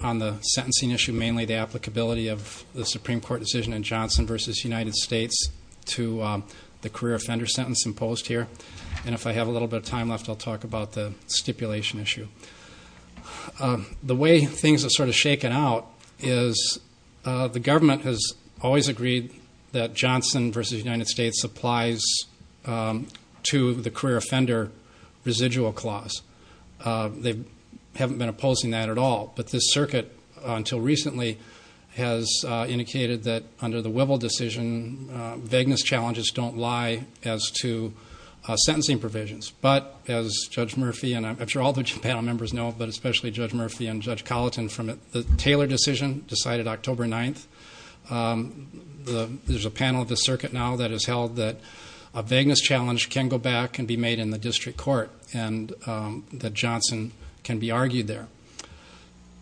On the sentencing issue, mainly the applicability of the Supreme Court decision in Johnson v. United States to the career offender sentence imposed here. And if I have a little bit of time left, I'll talk about the stipulation issue. The way things have sort of shaken out is the government has always agreed that Johnson v. United States applies to the career offender residual clause. They haven't been opposing that at all. But this circuit, until recently, has indicated that under the Wivel decision, vagueness challenges don't lie as to sentencing provisions. But as Judge Murphy, and I'm sure all the panel members know, but especially Judge Murphy and Judge Colleton, from the Taylor decision decided October 9th, there's a panel of the circuit now that has held that a vagueness challenge can go back and be made in the district court. And that Johnson can be argued there.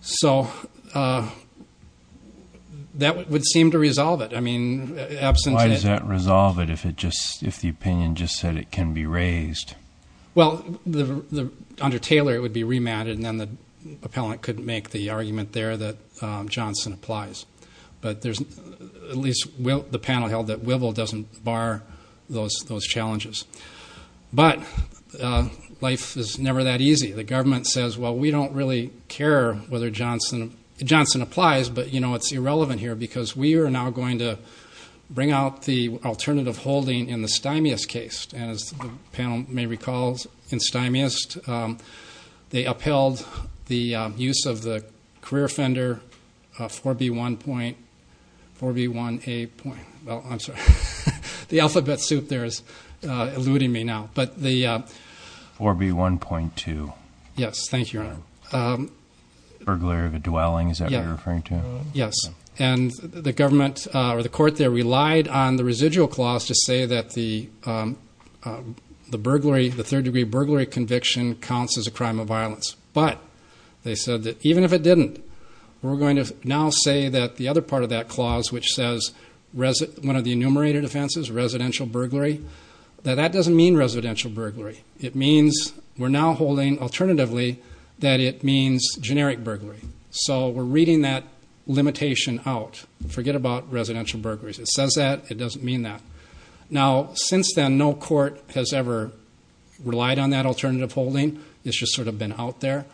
So that would seem to resolve it. Why does that resolve it if the opinion just said it can be raised? Well, under Taylor it would be remanded, and then the appellant could make the argument there that Johnson applies. But at least the panel held that Wivel doesn't bar those challenges. But life is never that easy. The government says, well, we don't really care whether Johnson applies, but, you know, it's irrelevant here because we are now going to bring out the alternative holding in the Stymius case. And as the panel may recall, in Stymius they upheld the use of the career offender 4B1A point. The alphabet soup there is eluding me now. 4B1.2. Yes, thank you, Your Honor. Burglary of a dwelling, is that what you're referring to? Yes. And the government or the court there relied on the residual clause to say that the third degree burglary conviction counts as a crime of violence. But they said that even if it didn't, we're going to now say that the other part of that clause, which says one of the enumerated offenses, residential burglary, that that doesn't mean residential burglary. It means we're now holding alternatively that it means generic burglary. So we're reading that limitation out. Forget about residential burglaries. It says that. It doesn't mean that. Now, since then, no court has ever relied on that alternative holding. It's just sort of been out there.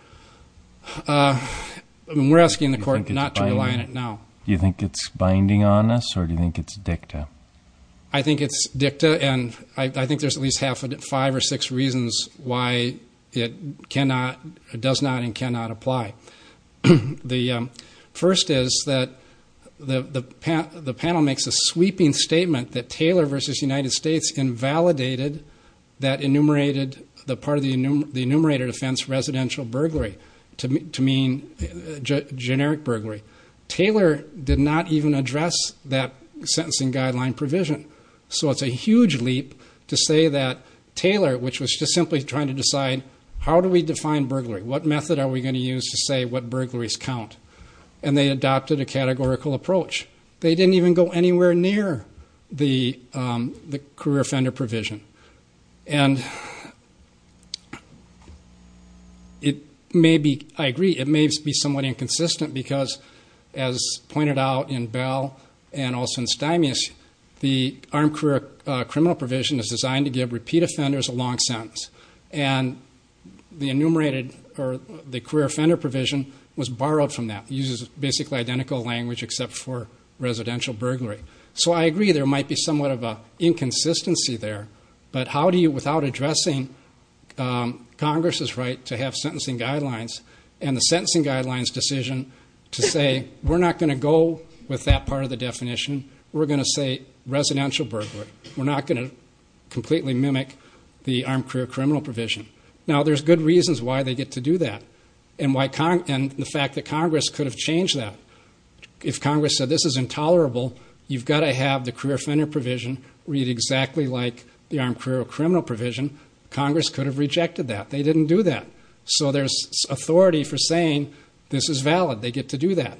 We're asking the court not to rely on it now. Do you think it's binding on us, or do you think it's dicta? I think it's dicta, and I think there's at least five or six reasons why it does not and cannot apply. The first is that the panel makes a sweeping statement that Taylor v. United States invalidated that enumerated, the part of the enumerated offense, residential burglary, to mean generic burglary. Taylor did not even address that sentencing guideline provision. So it's a huge leap to say that Taylor, which was just simply trying to decide how do we define burglary, what method are we going to use to say what burglaries count. And they adopted a categorical approach. They didn't even go anywhere near the career offender provision. And it may be, I agree, it may be somewhat inconsistent because, as pointed out in Bell and also in Stymius, the armed career criminal provision is designed to give repeat offenders a long sentence. And the enumerated or the career offender provision was borrowed from that. It uses basically identical language except for residential burglary. So I agree there might be somewhat of an inconsistency there, but how do you, without addressing Congress's right to have sentencing guidelines and the sentencing guidelines decision to say, we're not going to go with that part of the definition. We're going to say residential burglary. We're not going to completely mimic the armed career criminal provision. Now, there's good reasons why they get to do that and the fact that Congress could have changed that. If Congress said this is intolerable, you've got to have the career offender provision read exactly like the armed career criminal provision. Congress could have rejected that. They didn't do that. So there's authority for saying this is valid. They get to do that.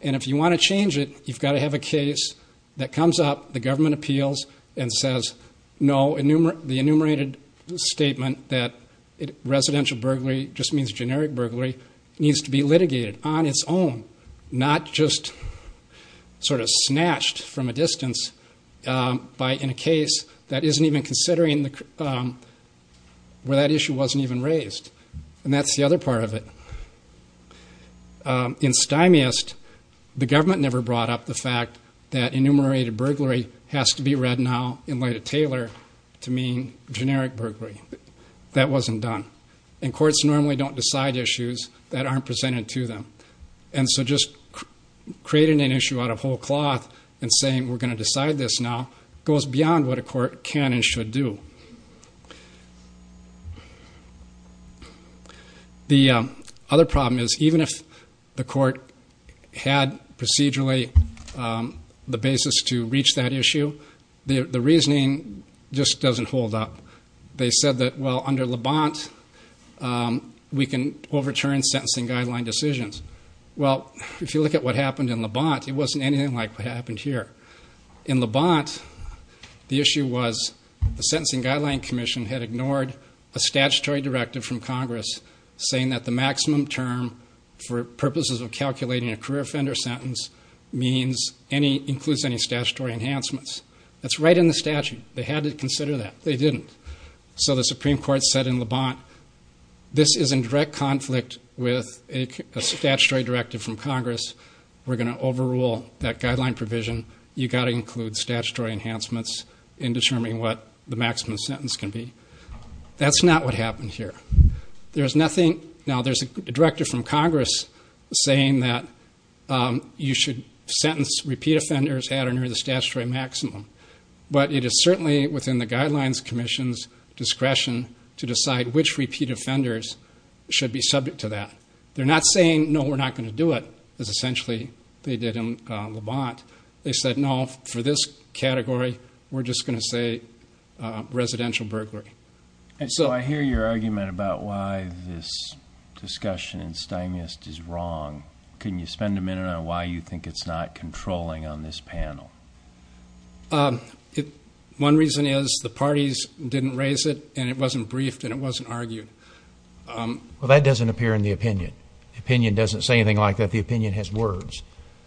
And if you want to change it, you've got to have a case that comes up, the government appeals, and says no, the enumerated statement that residential burglary just means generic burglary needs to be litigated on its own, not just sort of snatched from a distance in a case that isn't even considering where that issue wasn't even raised. And that's the other part of it. In Stymiest, the government never brought up the fact that enumerated burglary has to be read now in light of Taylor to mean generic burglary. That wasn't done. And courts normally don't decide issues that aren't presented to them. And so just creating an issue out of whole cloth and saying we're going to decide this now goes beyond what a court can and should do. The other problem is even if the court had procedurally the basis to reach that issue, the reasoning just doesn't hold up. They said that, well, under LeBant, we can overturn sentencing guideline decisions. Well, if you look at what happened in LeBant, it wasn't anything like what happened here. In LeBant, the issue was the Sentencing Guideline Commission had ignored a statutory directive from Congress saying that the maximum term for purposes of calculating a career offender sentence includes any statutory enhancements. That's right in the statute. They had to consider that. They didn't. So the Supreme Court said in LeBant, this is in direct conflict with a statutory directive from Congress. We're going to overrule that guideline provision. You've got to include statutory enhancements in determining what the maximum sentence can be. That's not what happened here. Now, there's a directive from Congress saying that you should sentence repeat offenders at or near the statutory maximum. But it is certainly within the Guidelines Commission's discretion to decide which repeat offenders should be subject to that. They're not saying, no, we're not going to do it, as essentially they did in LeBant. They said, no, for this category, we're just going to say residential burglary. So I hear your argument about why this discussion in Stymiast is wrong. Can you spend a minute on why you think it's not controlling on this panel? One reason is the parties didn't raise it, and it wasn't briefed, and it wasn't argued. Well, that doesn't appear in the opinion. The opinion doesn't say anything like that. The opinion has words.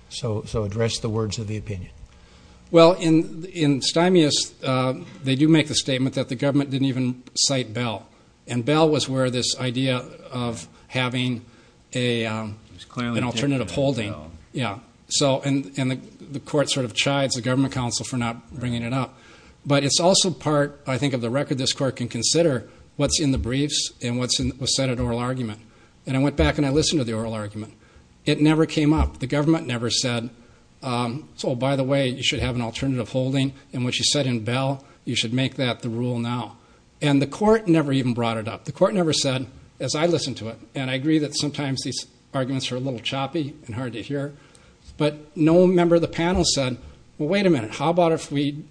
So address the words of the opinion. Well, in Stymiast, they do make the statement that the government didn't even cite Bell. And Bell was where this idea of having an alternative holding. And the court sort of chides the government counsel for not bringing it up. But it's also part, I think, of the record this court can consider what's in the briefs and what was said in oral argument. And I went back and I listened to the oral argument. It never came up. The government never said, oh, by the way, you should have an alternative holding. And what you said in Bell, you should make that the rule now. And the court never even brought it up. The court never said, as I listened to it, and I agree that sometimes these arguments are a little choppy and hard to hear, but no member of the panel said, well, wait a minute. How about if we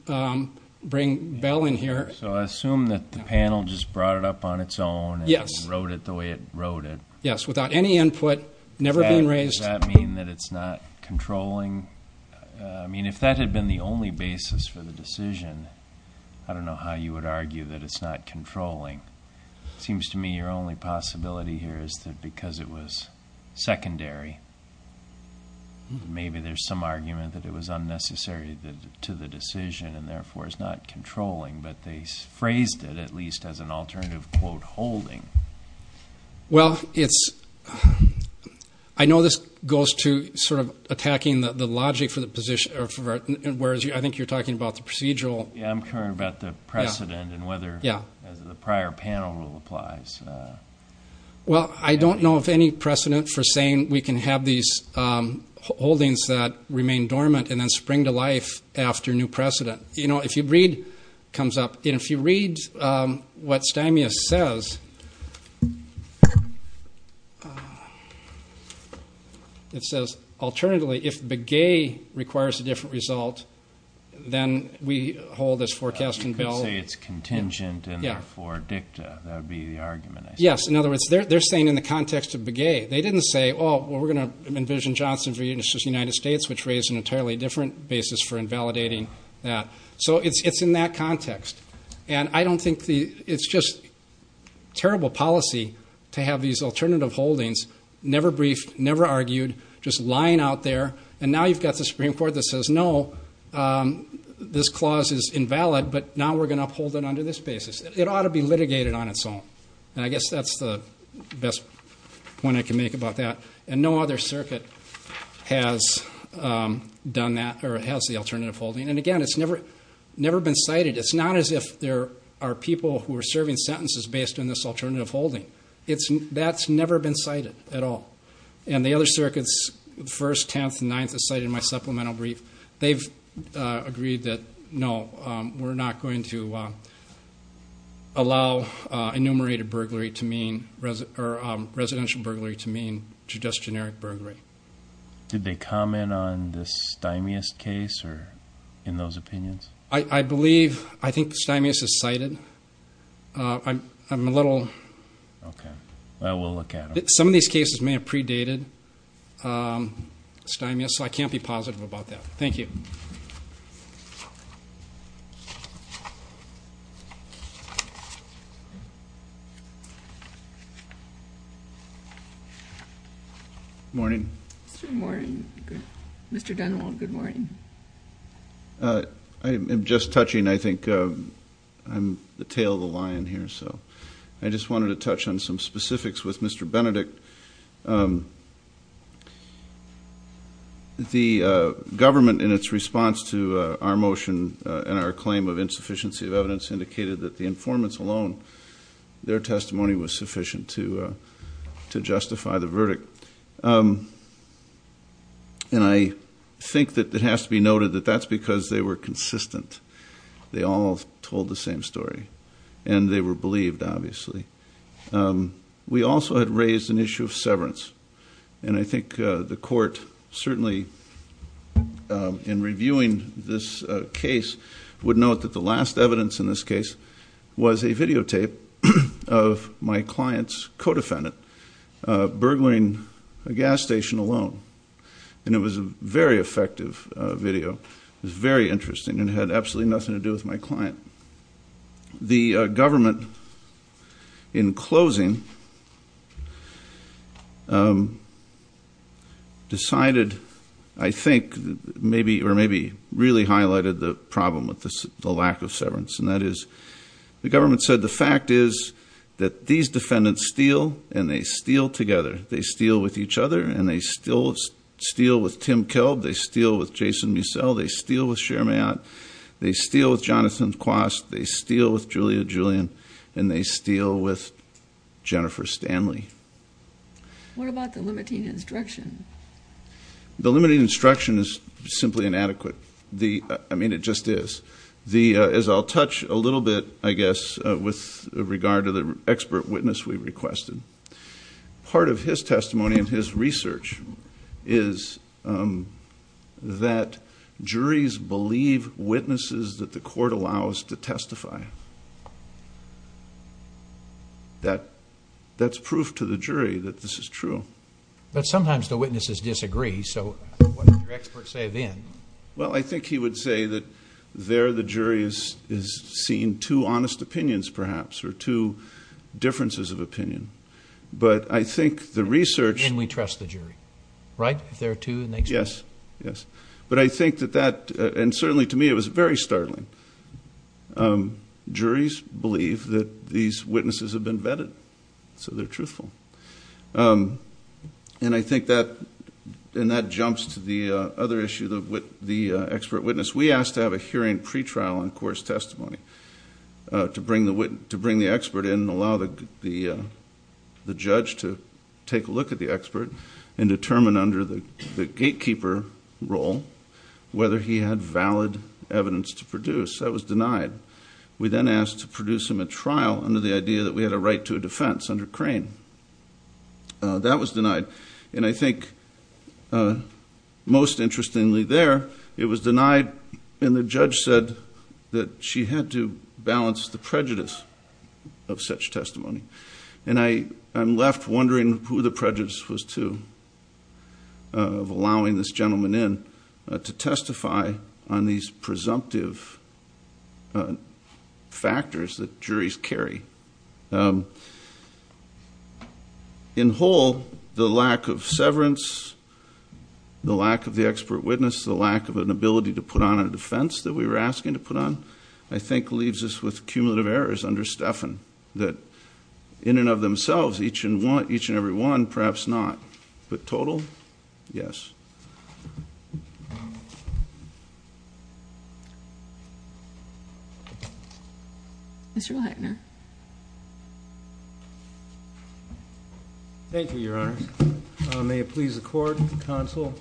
bring Bell in here. So I assume that the panel just brought it up on its own and wrote it the way it wrote it. Yes, without any input, never being raised. Does that mean that it's not controlling? I mean, if that had been the only basis for the decision, I don't know how you would argue that it's not controlling. It seems to me your only possibility here is that because it was secondary, maybe there's some argument that it was unnecessary to the decision and therefore is not controlling, but they phrased it at least as an alternative, quote, holding. Well, I know this goes to sort of attacking the logic for the position, whereas I think you're talking about the procedural. Yes, I'm talking about the precedent and whether the prior panel rule applies. Well, I don't know of any precedent for saying we can have these holdings that remain dormant and then spring to life after new precedent. You know, if you read what Stymia says, it says, alternatively, if Begay requires a different result, then we hold this forecast in Bell. You say it's contingent and therefore dicta. That would be the argument, I suppose. Yes, in other words, they're saying in the context of Begay. They didn't say, oh, well, we're going to envision Johnson v. United States, which raised an entirely different basis for invalidating that. So it's in that context. And I don't think it's just terrible policy to have these alternative holdings, never briefed, never argued, just lying out there. And now you've got the Supreme Court that says, no, this clause is invalid, but now we're going to uphold it under this basis. It ought to be litigated on its own. And I guess that's the best point I can make about that. And no other circuit has done that or has the alternative holding. And, again, it's never been cited. It's not as if there are people who are serving sentences based on this alternative holding. That's never been cited at all. And the other circuits, the 1st, 10th, and 9th have cited my supplemental brief. They've agreed that, no, we're not going to allow enumerated burglary to mean or residential burglary to mean just generic burglary. Did they comment on the Stymius case or in those opinions? I believe, I think Stymius is cited. I'm a little. Okay. We'll look at it. Some of these cases may have predated Stymius, so I can't be positive about that. Thank you. Good morning. Good morning. Mr. Dunwall, good morning. I'm just touching, I think. I'm the tail of the line here. So I just wanted to touch on some specifics with Mr. Benedict. The government, in its response to our motion and our claim of insufficiency of evidence, indicated that the informants alone, their testimony was sufficient to justify the verdict. And I think that it has to be noted that that's because they were consistent. They all told the same story. And they were believed, obviously. We also had raised an issue of severance. And I think the court certainly, in reviewing this case, would note that the last evidence in this case was a videotape of my client's co-defendant burglaring a gas station alone. And it was a very effective video. It was very interesting and had absolutely nothing to do with my client. The government, in closing, decided, I think, or maybe really highlighted the problem with the lack of severance. And that is, the government said, the fact is that these defendants steal and they steal together. They steal with each other and they steal with Tim Kelb. They steal with Jason Mussel. They steal with Cher Mayotte. They steal with Jonathan Quast. They steal with Julia Julian. And they steal with Jennifer Stanley. What about the limiting instruction? The limiting instruction is simply inadequate. I mean, it just is. As I'll touch a little bit, I guess, with regard to the expert witness we requested, part of his testimony and his research is that juries believe witnesses that the court allows to testify. That's proof to the jury that this is true. But sometimes the witnesses disagree. So what did your expert say then? Well, I think he would say that there the jury has seen two honest opinions, perhaps, or two differences of opinion. But I think the research. And we trust the jury. Right? If there are two. Yes. Yes. But I think that that, and certainly to me it was very startling. Juries believe that these witnesses have been vetted. So they're truthful. And I think that jumps to the other issue, the expert witness. We asked to have a hearing pretrial on course testimony to bring the expert in and allow the judge to take a look at the expert and determine under the gatekeeper role whether he had valid evidence to produce. That was denied. We then asked to produce him a trial under the idea that we had a right to a defense under Crane. That was denied. And I think most interestingly there, it was denied and the judge said that she had to balance the prejudice of such testimony. And I'm left wondering who the prejudice was to of allowing this gentleman in to testify on these presumptive factors that juries carry. In whole, the lack of severance, the lack of the expert witness, the lack of an ability to put on a defense that we were asking to put on, I think leaves us with cumulative errors under Stephan that in and of themselves, each and every one, perhaps not. But total? Yes. Thank you very much. Mr. Lackner. Thank you, Your Honors. May it please the Court, Counsel,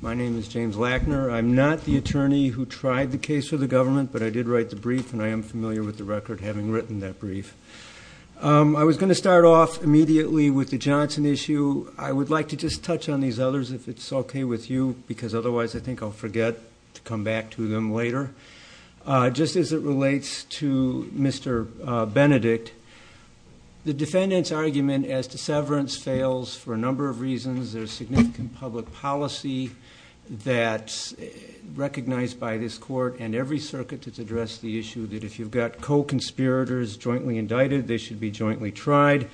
my name is James Lackner. I'm not the attorney who tried the case for the government, but I did write the brief, and I am familiar with the record having written that brief. I was going to start off immediately with the Johnson issue. I would like to just touch on these others if it's okay with you, because otherwise I think I'll forget to come back to them later. Just as it relates to Mr. Benedict, the defendant's argument as to severance fails for a number of reasons. There's significant public policy that's recognized by this Court and every circuit that's addressed the issue that if you've got co-conspirators jointly indicted, they should be jointly tried.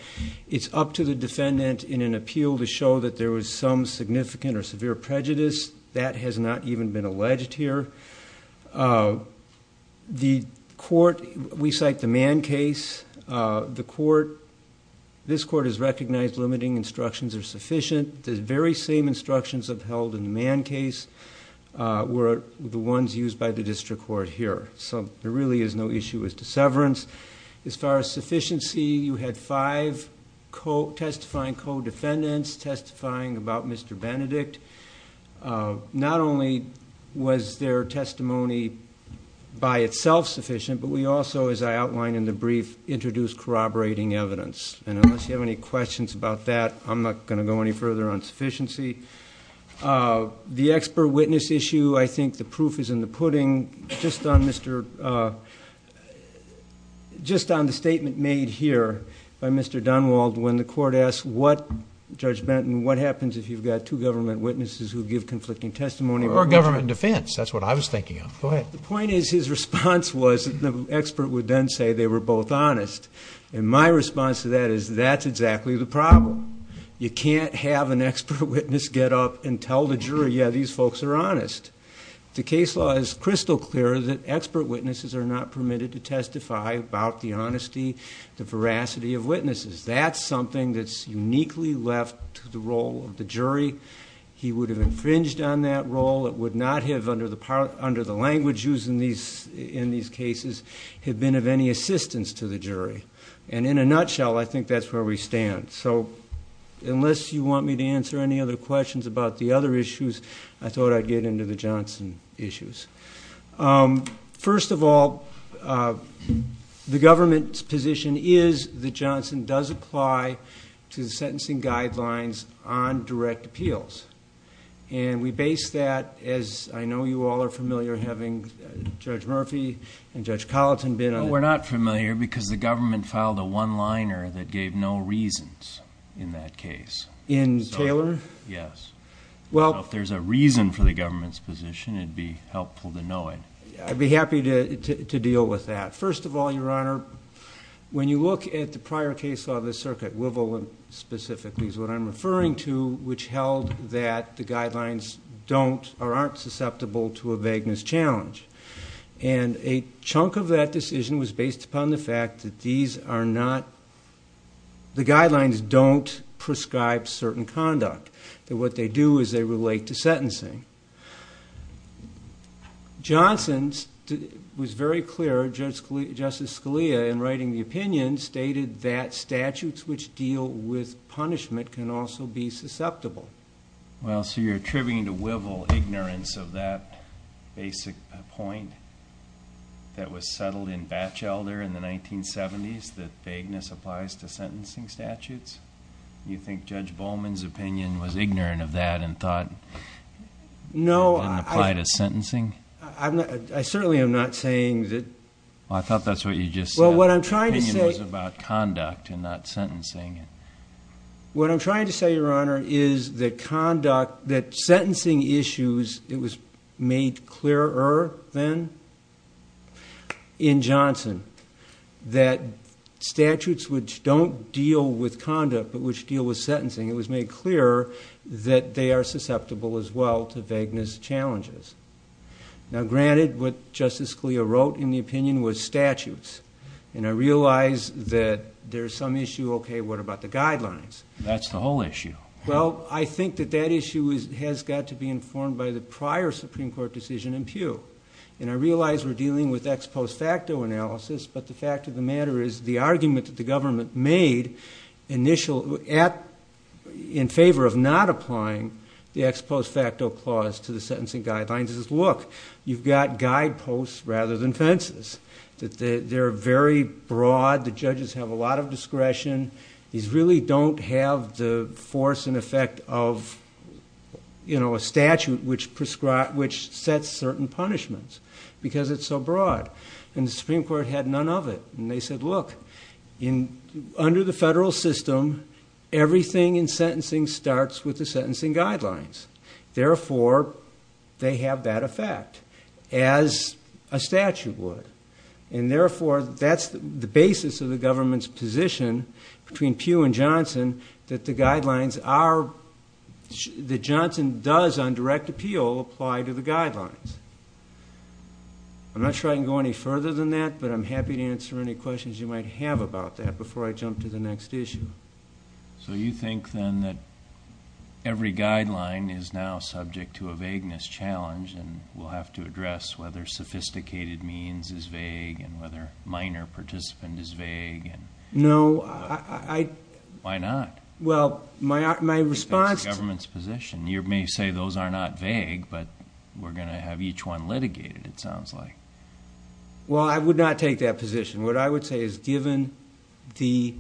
It's up to the defendant in an appeal to show that there was some significant or severe prejudice. That has not even been alleged here. The Court, we cite the Mann case. The Court, this Court has recognized limiting instructions are sufficient. The very same instructions upheld in the Mann case were the ones used by the district court here. So there really is no issue as to severance. As far as sufficiency, you had five testifying co-defendants testifying about Mr. Benedict. Not only was their testimony by itself sufficient, but we also, as I outlined in the brief, introduced corroborating evidence. Unless you have any questions about that, I'm not going to go any further on sufficiency. Just on the statement made here by Mr. Dunwald, when the Court asked Judge Benton, what happens if you've got two government witnesses who give conflicting testimony? Or government defense. That's what I was thinking of. Go ahead. The point is his response was the expert would then say they were both honest. My response to that is that's exactly the problem. You can't have an expert witness get up and tell the jury, yeah, these folks are honest. The case law is crystal clear that expert witnesses are not permitted to testify about the honesty, the veracity of witnesses. That's something that's uniquely left to the role of the jury. He would have infringed on that role. It would not have, under the language used in these cases, have been of any assistance to the jury. And in a nutshell, I think that's where we stand. So unless you want me to answer any other questions about the other issues, I thought I'd get into the Johnson issues. First of all, the government's position is that Johnson does apply to the sentencing guidelines on direct appeals. And we base that, as I know you all are familiar, having Judge Murphy and Judge Colleton been on it. We're not familiar because the government filed a one-liner that gave no reasons in that case. In Taylor? Yes. If there's a reason for the government's position, it'd be helpful to know it. I'd be happy to deal with that. First of all, Your Honor, when you look at the prior case law of the circuit, Wivel specifically is what I'm referring to, which held that the guidelines aren't susceptible to a vagueness challenge. And a chunk of that decision was based upon the fact that these are not, the guidelines don't prescribe certain conduct. What they do is they relate to sentencing. Johnson was very clear, Justice Scalia in writing the opinion stated that statutes which deal with punishment can also be susceptible. Well, so you're attributing to Wivel ignorance of that basic point that was settled in Batchelder in the 1970s, that vagueness applies to sentencing statutes? You think Judge Bowman's opinion was ignorant of that and thought it didn't apply to sentencing? I certainly am not saying that. Well, I thought that's what you just said. The opinion was about conduct and not sentencing. What I'm trying to say, Your Honor, is that conduct, that sentencing issues, it was made clearer then in Johnson that statutes which don't deal with conduct but which deal with sentencing, it was made clear that they are susceptible as well to vagueness challenges. Now, granted, what Justice Scalia wrote in the opinion was statutes. And I realize that there's some issue, okay, what about the guidelines? That's the whole issue. Well, I think that that issue has got to be informed by the prior Supreme Court decision in Pew. And I realize we're dealing with ex post facto analysis, but the fact of the matter is the argument that the government made in favor of not applying the ex post facto clause to the sentencing guidelines is, look, you've got guideposts rather than fences. They're very broad. The judges have a lot of discretion. These really don't have the force and effect of, you know, a statute which sets certain punishments because it's so broad. And the Supreme Court had none of it. And they said, look, under the federal system, everything in sentencing starts with the sentencing guidelines. Therefore, they have that effect as a statute would. And therefore, that's the basis of the government's position between Pew and Johnson that the guidelines are, that Johnson does on direct appeal apply to the guidelines. I'm not sure I can go any further than that, but I'm happy to answer any questions you might have about that before I jump to the next issue. So you think then that every guideline is now subject to a vagueness challenge and we'll have to address whether sophisticated means is vague and whether minor participant is vague. No, I. Why not? Well, my response. It's the government's position. You may say those are not vague, but we're going to have each one litigated. It sounds like. Well, I would not take that position. What I would say is given the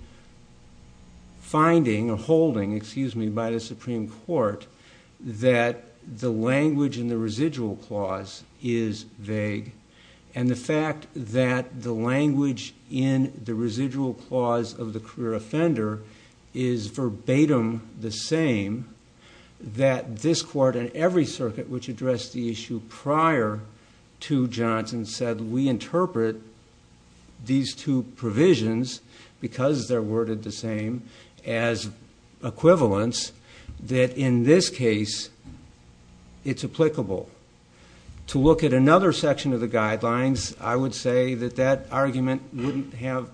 finding or holding, excuse me, by the Supreme Court that the language in the residual clause is vague. And the fact that the language in the residual clause of the career that this court and every circuit, which addressed the issue prior to Johnson said, we interpret these two provisions because they're worded the same as equivalence that in this case it's applicable to look at another section of the guidelines. I would say that that argument wouldn't have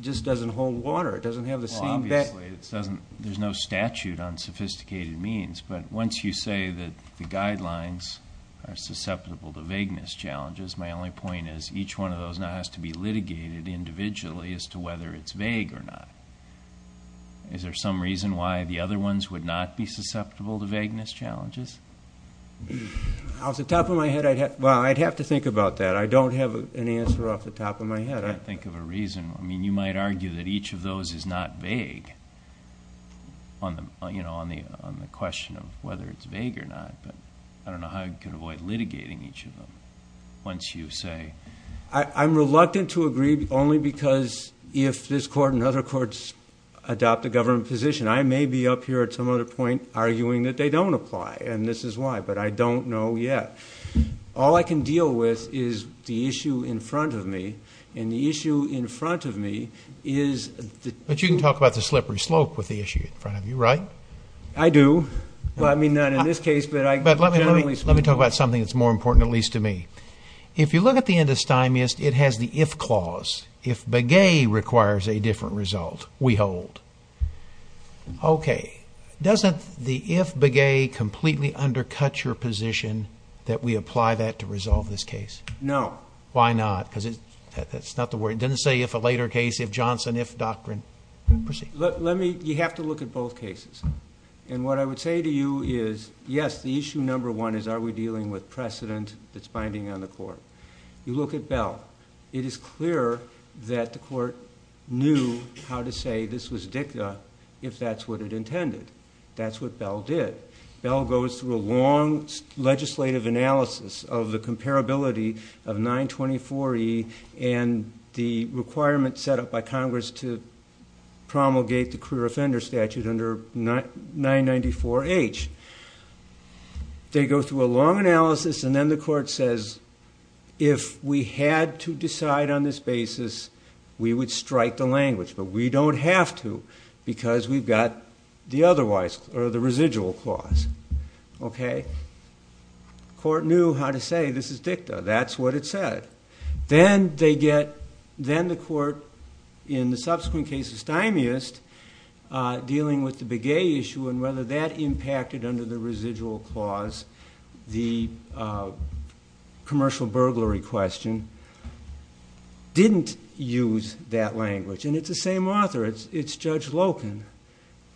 just doesn't hold water. It doesn't have the same. There's no statute on sophisticated means, but once you say that the guidelines are susceptible to vagueness challenges, my only point is each one of those now has to be litigated individually as to whether it's vague or not. Is there some reason why the other ones would not be susceptible to vagueness challenges? I was the top of my head. I'd have, well, I'd have to think about that. I don't have an answer off the top of my head. I think of a reason. I mean, you might argue that each of those is not vague on the, you know, on the, on the question of whether it's vague or not, but I don't know how I could avoid litigating each of them. Once you say. I'm reluctant to agree only because if this court and other courts adopt a government position, I may be up here at some other point arguing that they don't apply and this is why, but I don't know yet. But you can talk about the slippery slope with the issue in front of you, right? I do. Well, I mean, not in this case, but I, but let me, let me talk about something that's more important, at least to me. If you look at the end of stymies, it has the, if clause, if the gay requires a different result, we hold. Okay. Doesn't the, if the gay completely undercut your position that we apply that to resolve this case? No. Why not? Because it's not the word. It didn't say if a later case, if Johnson, if doctrine. Let me, you have to look at both cases. And what I would say to you is yes. The issue. Number one is, are we dealing with precedent that's binding on the court? You look at bell. It is clear that the court knew how to say this was dicta. If that's what it intended. That's what bell did. Bell goes through a long legislative analysis of the comparability of 924 E and the requirement set up by Congress to promulgate the career offender statute under nine 94 H. They go through a long analysis. And then the court says, if we had to decide on this basis, we would strike the language, but we don't have to because we've got the otherwise or the residual clause. Okay. Court knew how to say, this is dicta. That's what it said. Then they get, then the court in the subsequent cases time is dealing with the big issue. And whether that impacted under the residual clause, the commercial burglary question. Didn't use that language. And it's the same author. It's it's judge Loken.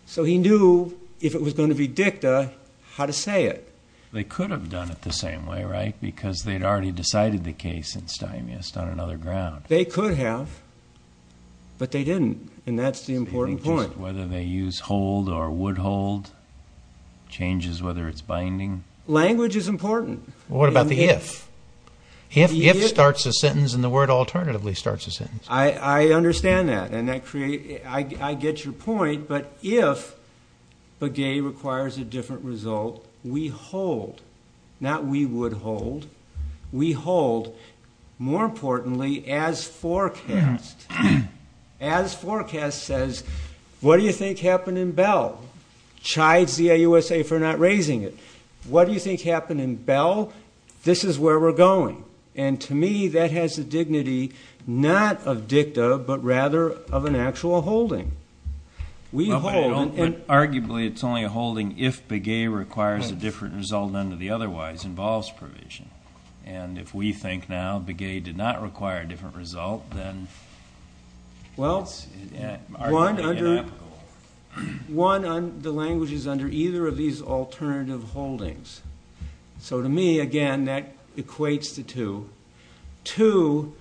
So he knew if it was going to be dicta, how to say it, they could have done it the same way, right? Because they'd already decided the case in Stein. Yes. On another ground. They could have, but they didn't. And that's the important point, whether they use hold or would hold changes, whether it's binding language is important. What about the, if he starts a sentence in the word, alternatively starts a sentence. I, I understand that. And that create, I get your point, but if the gay requires a different result, we hold. Not, we would hold. We hold. More importantly, as forecast, as forecast says, what do you think happened in bell chives? The USA for not raising it. What do you think happened in bell? This is where we're going. And to me, that has a dignity, not of dicta, but rather of an actual holding. We hold. And arguably it's only a holding. If the gay requires a different result, none of the otherwise involves provision. And if we think now the gay did not require a different result, then well, one under one on the languages under either of these alternative holdings. So to me, again, that equates to two, two.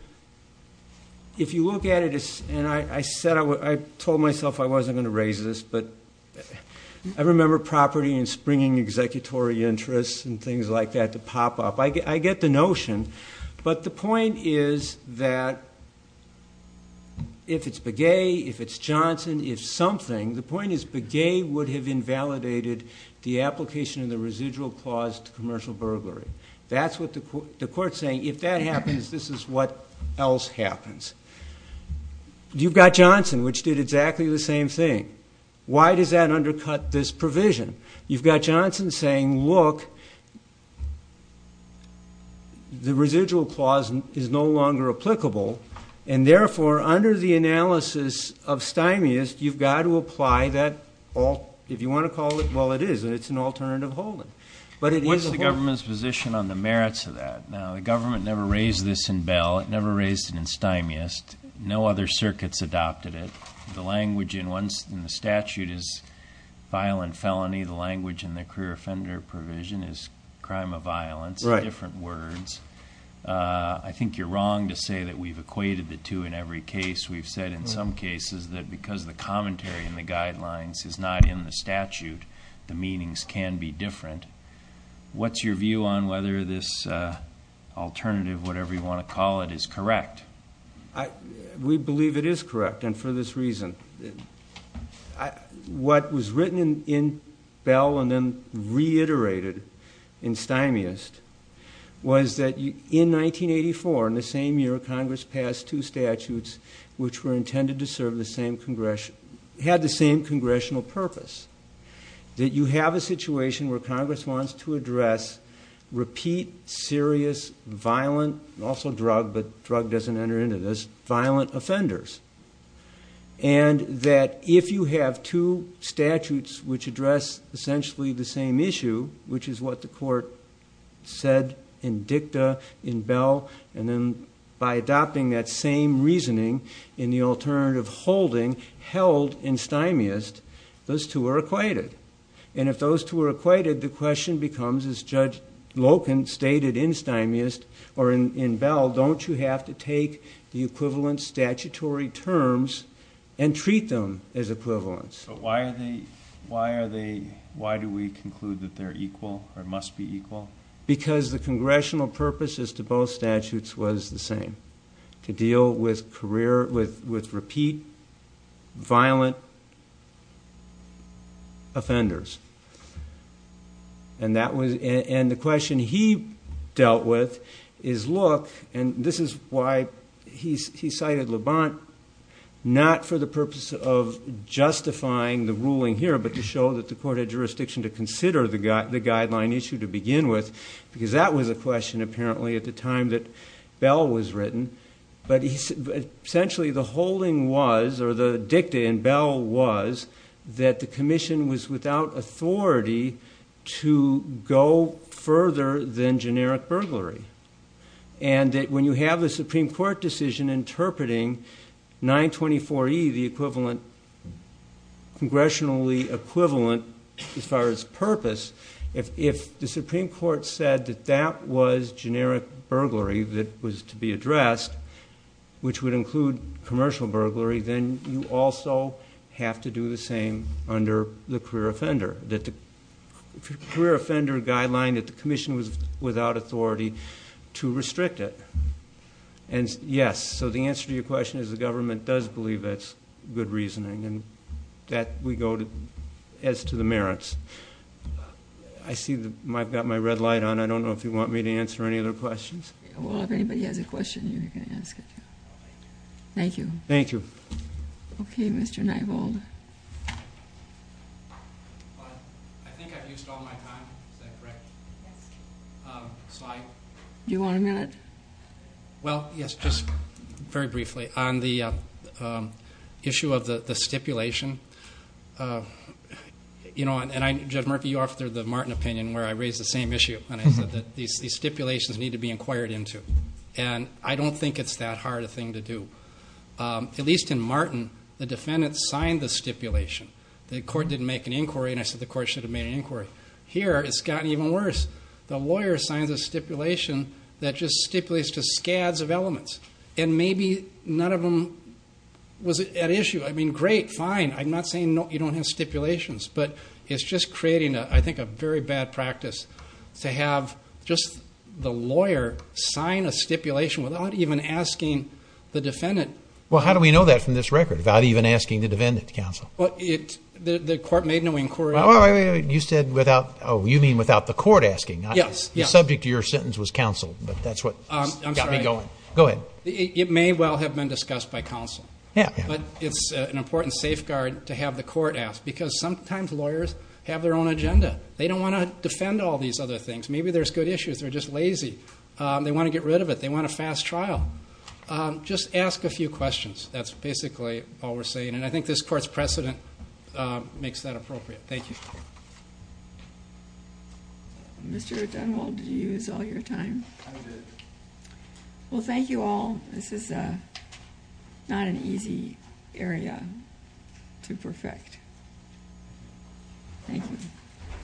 If you look at it, and I said, I told myself I wasn't going to raise this, but I remember properly. And springing executory interests and things like that to pop up. I get, I get the notion, but the point is that if it's the gay, if it's Johnson, if something, the point is, but gay would have invalidated the application of the residual clause to commercial burglary. That's what the court, the court saying, if that happens, this is what else happens. You've got Johnson, which did exactly the same thing. Why does that undercut this provision? You've got Johnson saying, look, the residual clause is no longer applicable. And therefore under the analysis of Stein is you've got to apply that all. If you want to call it, well, it is, and it's an alternative holding, but it is the government's position on the merits of that. Now, the government never raised this in bell. It never raised it in Stein. Yes. No other circuits adopted it. The language in once in the statute is violent felony. The language in their career offender provision is crime of violence, different words. Uh, I think you're wrong to say that we've equated the two in every case. We've said in some cases that because the commentary and the guidelines is not in the statute, the meanings can be different. What's your view on whether this, uh, alternative, whatever you want to call it is correct. I, we believe it is correct. And for this reason, I, what was written in bell and then reiterated in stymiest was that in 1984, in the same year, Congress passed two statutes, which were intended to serve the same congressional, had the same congressional purpose that you have a situation where Congress wants to address, repeat serious, violent, also drug, but drug doesn't enter into this violent offenders. And that if you have two statutes, which address essentially the same issue, which is what the court said in dicta in bell. And then by adopting that same reasoning in the alternative holding held in stymiest, those two are equated. And if those two were equated, the question becomes as judge Loken stated in stymiest or in, in bell, don't you have to take the equivalent statutory terms and treat them as equivalence? Why are they, why are they, why do we conclude that they're equal or must be equal because the congressional purposes to both statutes was the same to deal with career with, with repeat violent offenders. And that was, and the question he dealt with is look, and this is why he's, he cited Levant not for the purpose of justifying the ruling here, but to show that the court had jurisdiction to consider the guy, the guideline issue to begin with, because that was a question apparently at the time that bell was written, but essentially the holding was, or the dicta and bell was that the commission was without authority to go further than generic burglary. And that when you have a Supreme court decision, interpreting nine 24, the equivalent congressionally equivalent, as far as purpose, if, if the Supreme court said that that was generic burglary, that was to be addressed, which would include commercial burglary, then you also have to do the same under the career offender, that the career offender guideline that the commission was without authority to restrict it. And yes. So the answer to your question is the government does believe it's good reasoning and that we go to, as to the merits, I see the Mike got my red light on. I don't know if you want me to answer any other questions. Well, if anybody has a question, you're going to ask it. Thank you. Thank you. Okay. Mr. I think I've used all my time. Is that correct? Do you want a minute? Well, yes, just very briefly on the issue of the, the stipulation, you know, and I, Jeff Murphy, you offered the Martin opinion where I raised the same issue. And I said that these, these stipulations need to be inquired into. And I don't think it's that hard a thing to do. At least in Martin, the defendant signed the stipulation, the court didn't make an inquiry. And I said, the court should have made an inquiry here. It's gotten even worse. The lawyer signs a stipulation that just stipulates to scads of elements. And maybe none of them was at issue. I mean, great, fine. I'm not saying no, you don't have stipulations, but it's just creating a, I think a very bad practice to have just the lawyer sign a stipulation without even asking the defendant. Well, how do we know that from this record without even asking the defendant counsel? Well, it, the court made no inquiry. You said without, Oh, you mean without the court asking? Yes. Subject to your sentence was counsel, but that's what got me going. Go ahead. It may well have been discussed by counsel, but it's an important safeguard to have the court asked because sometimes lawyers have their own agenda. They don't want to defend all these other things. Maybe there's good issues. They're just lazy. They want to get rid of it. They want a fast trial. Um, just ask a few questions. That's basically all we're saying. And I think this court's precedent, uh, makes that appropriate. Thank you. Mr. Dunwall, did you use all your time? I did. Well, thank you all. This is a, not an easy area to perfect. Thank you.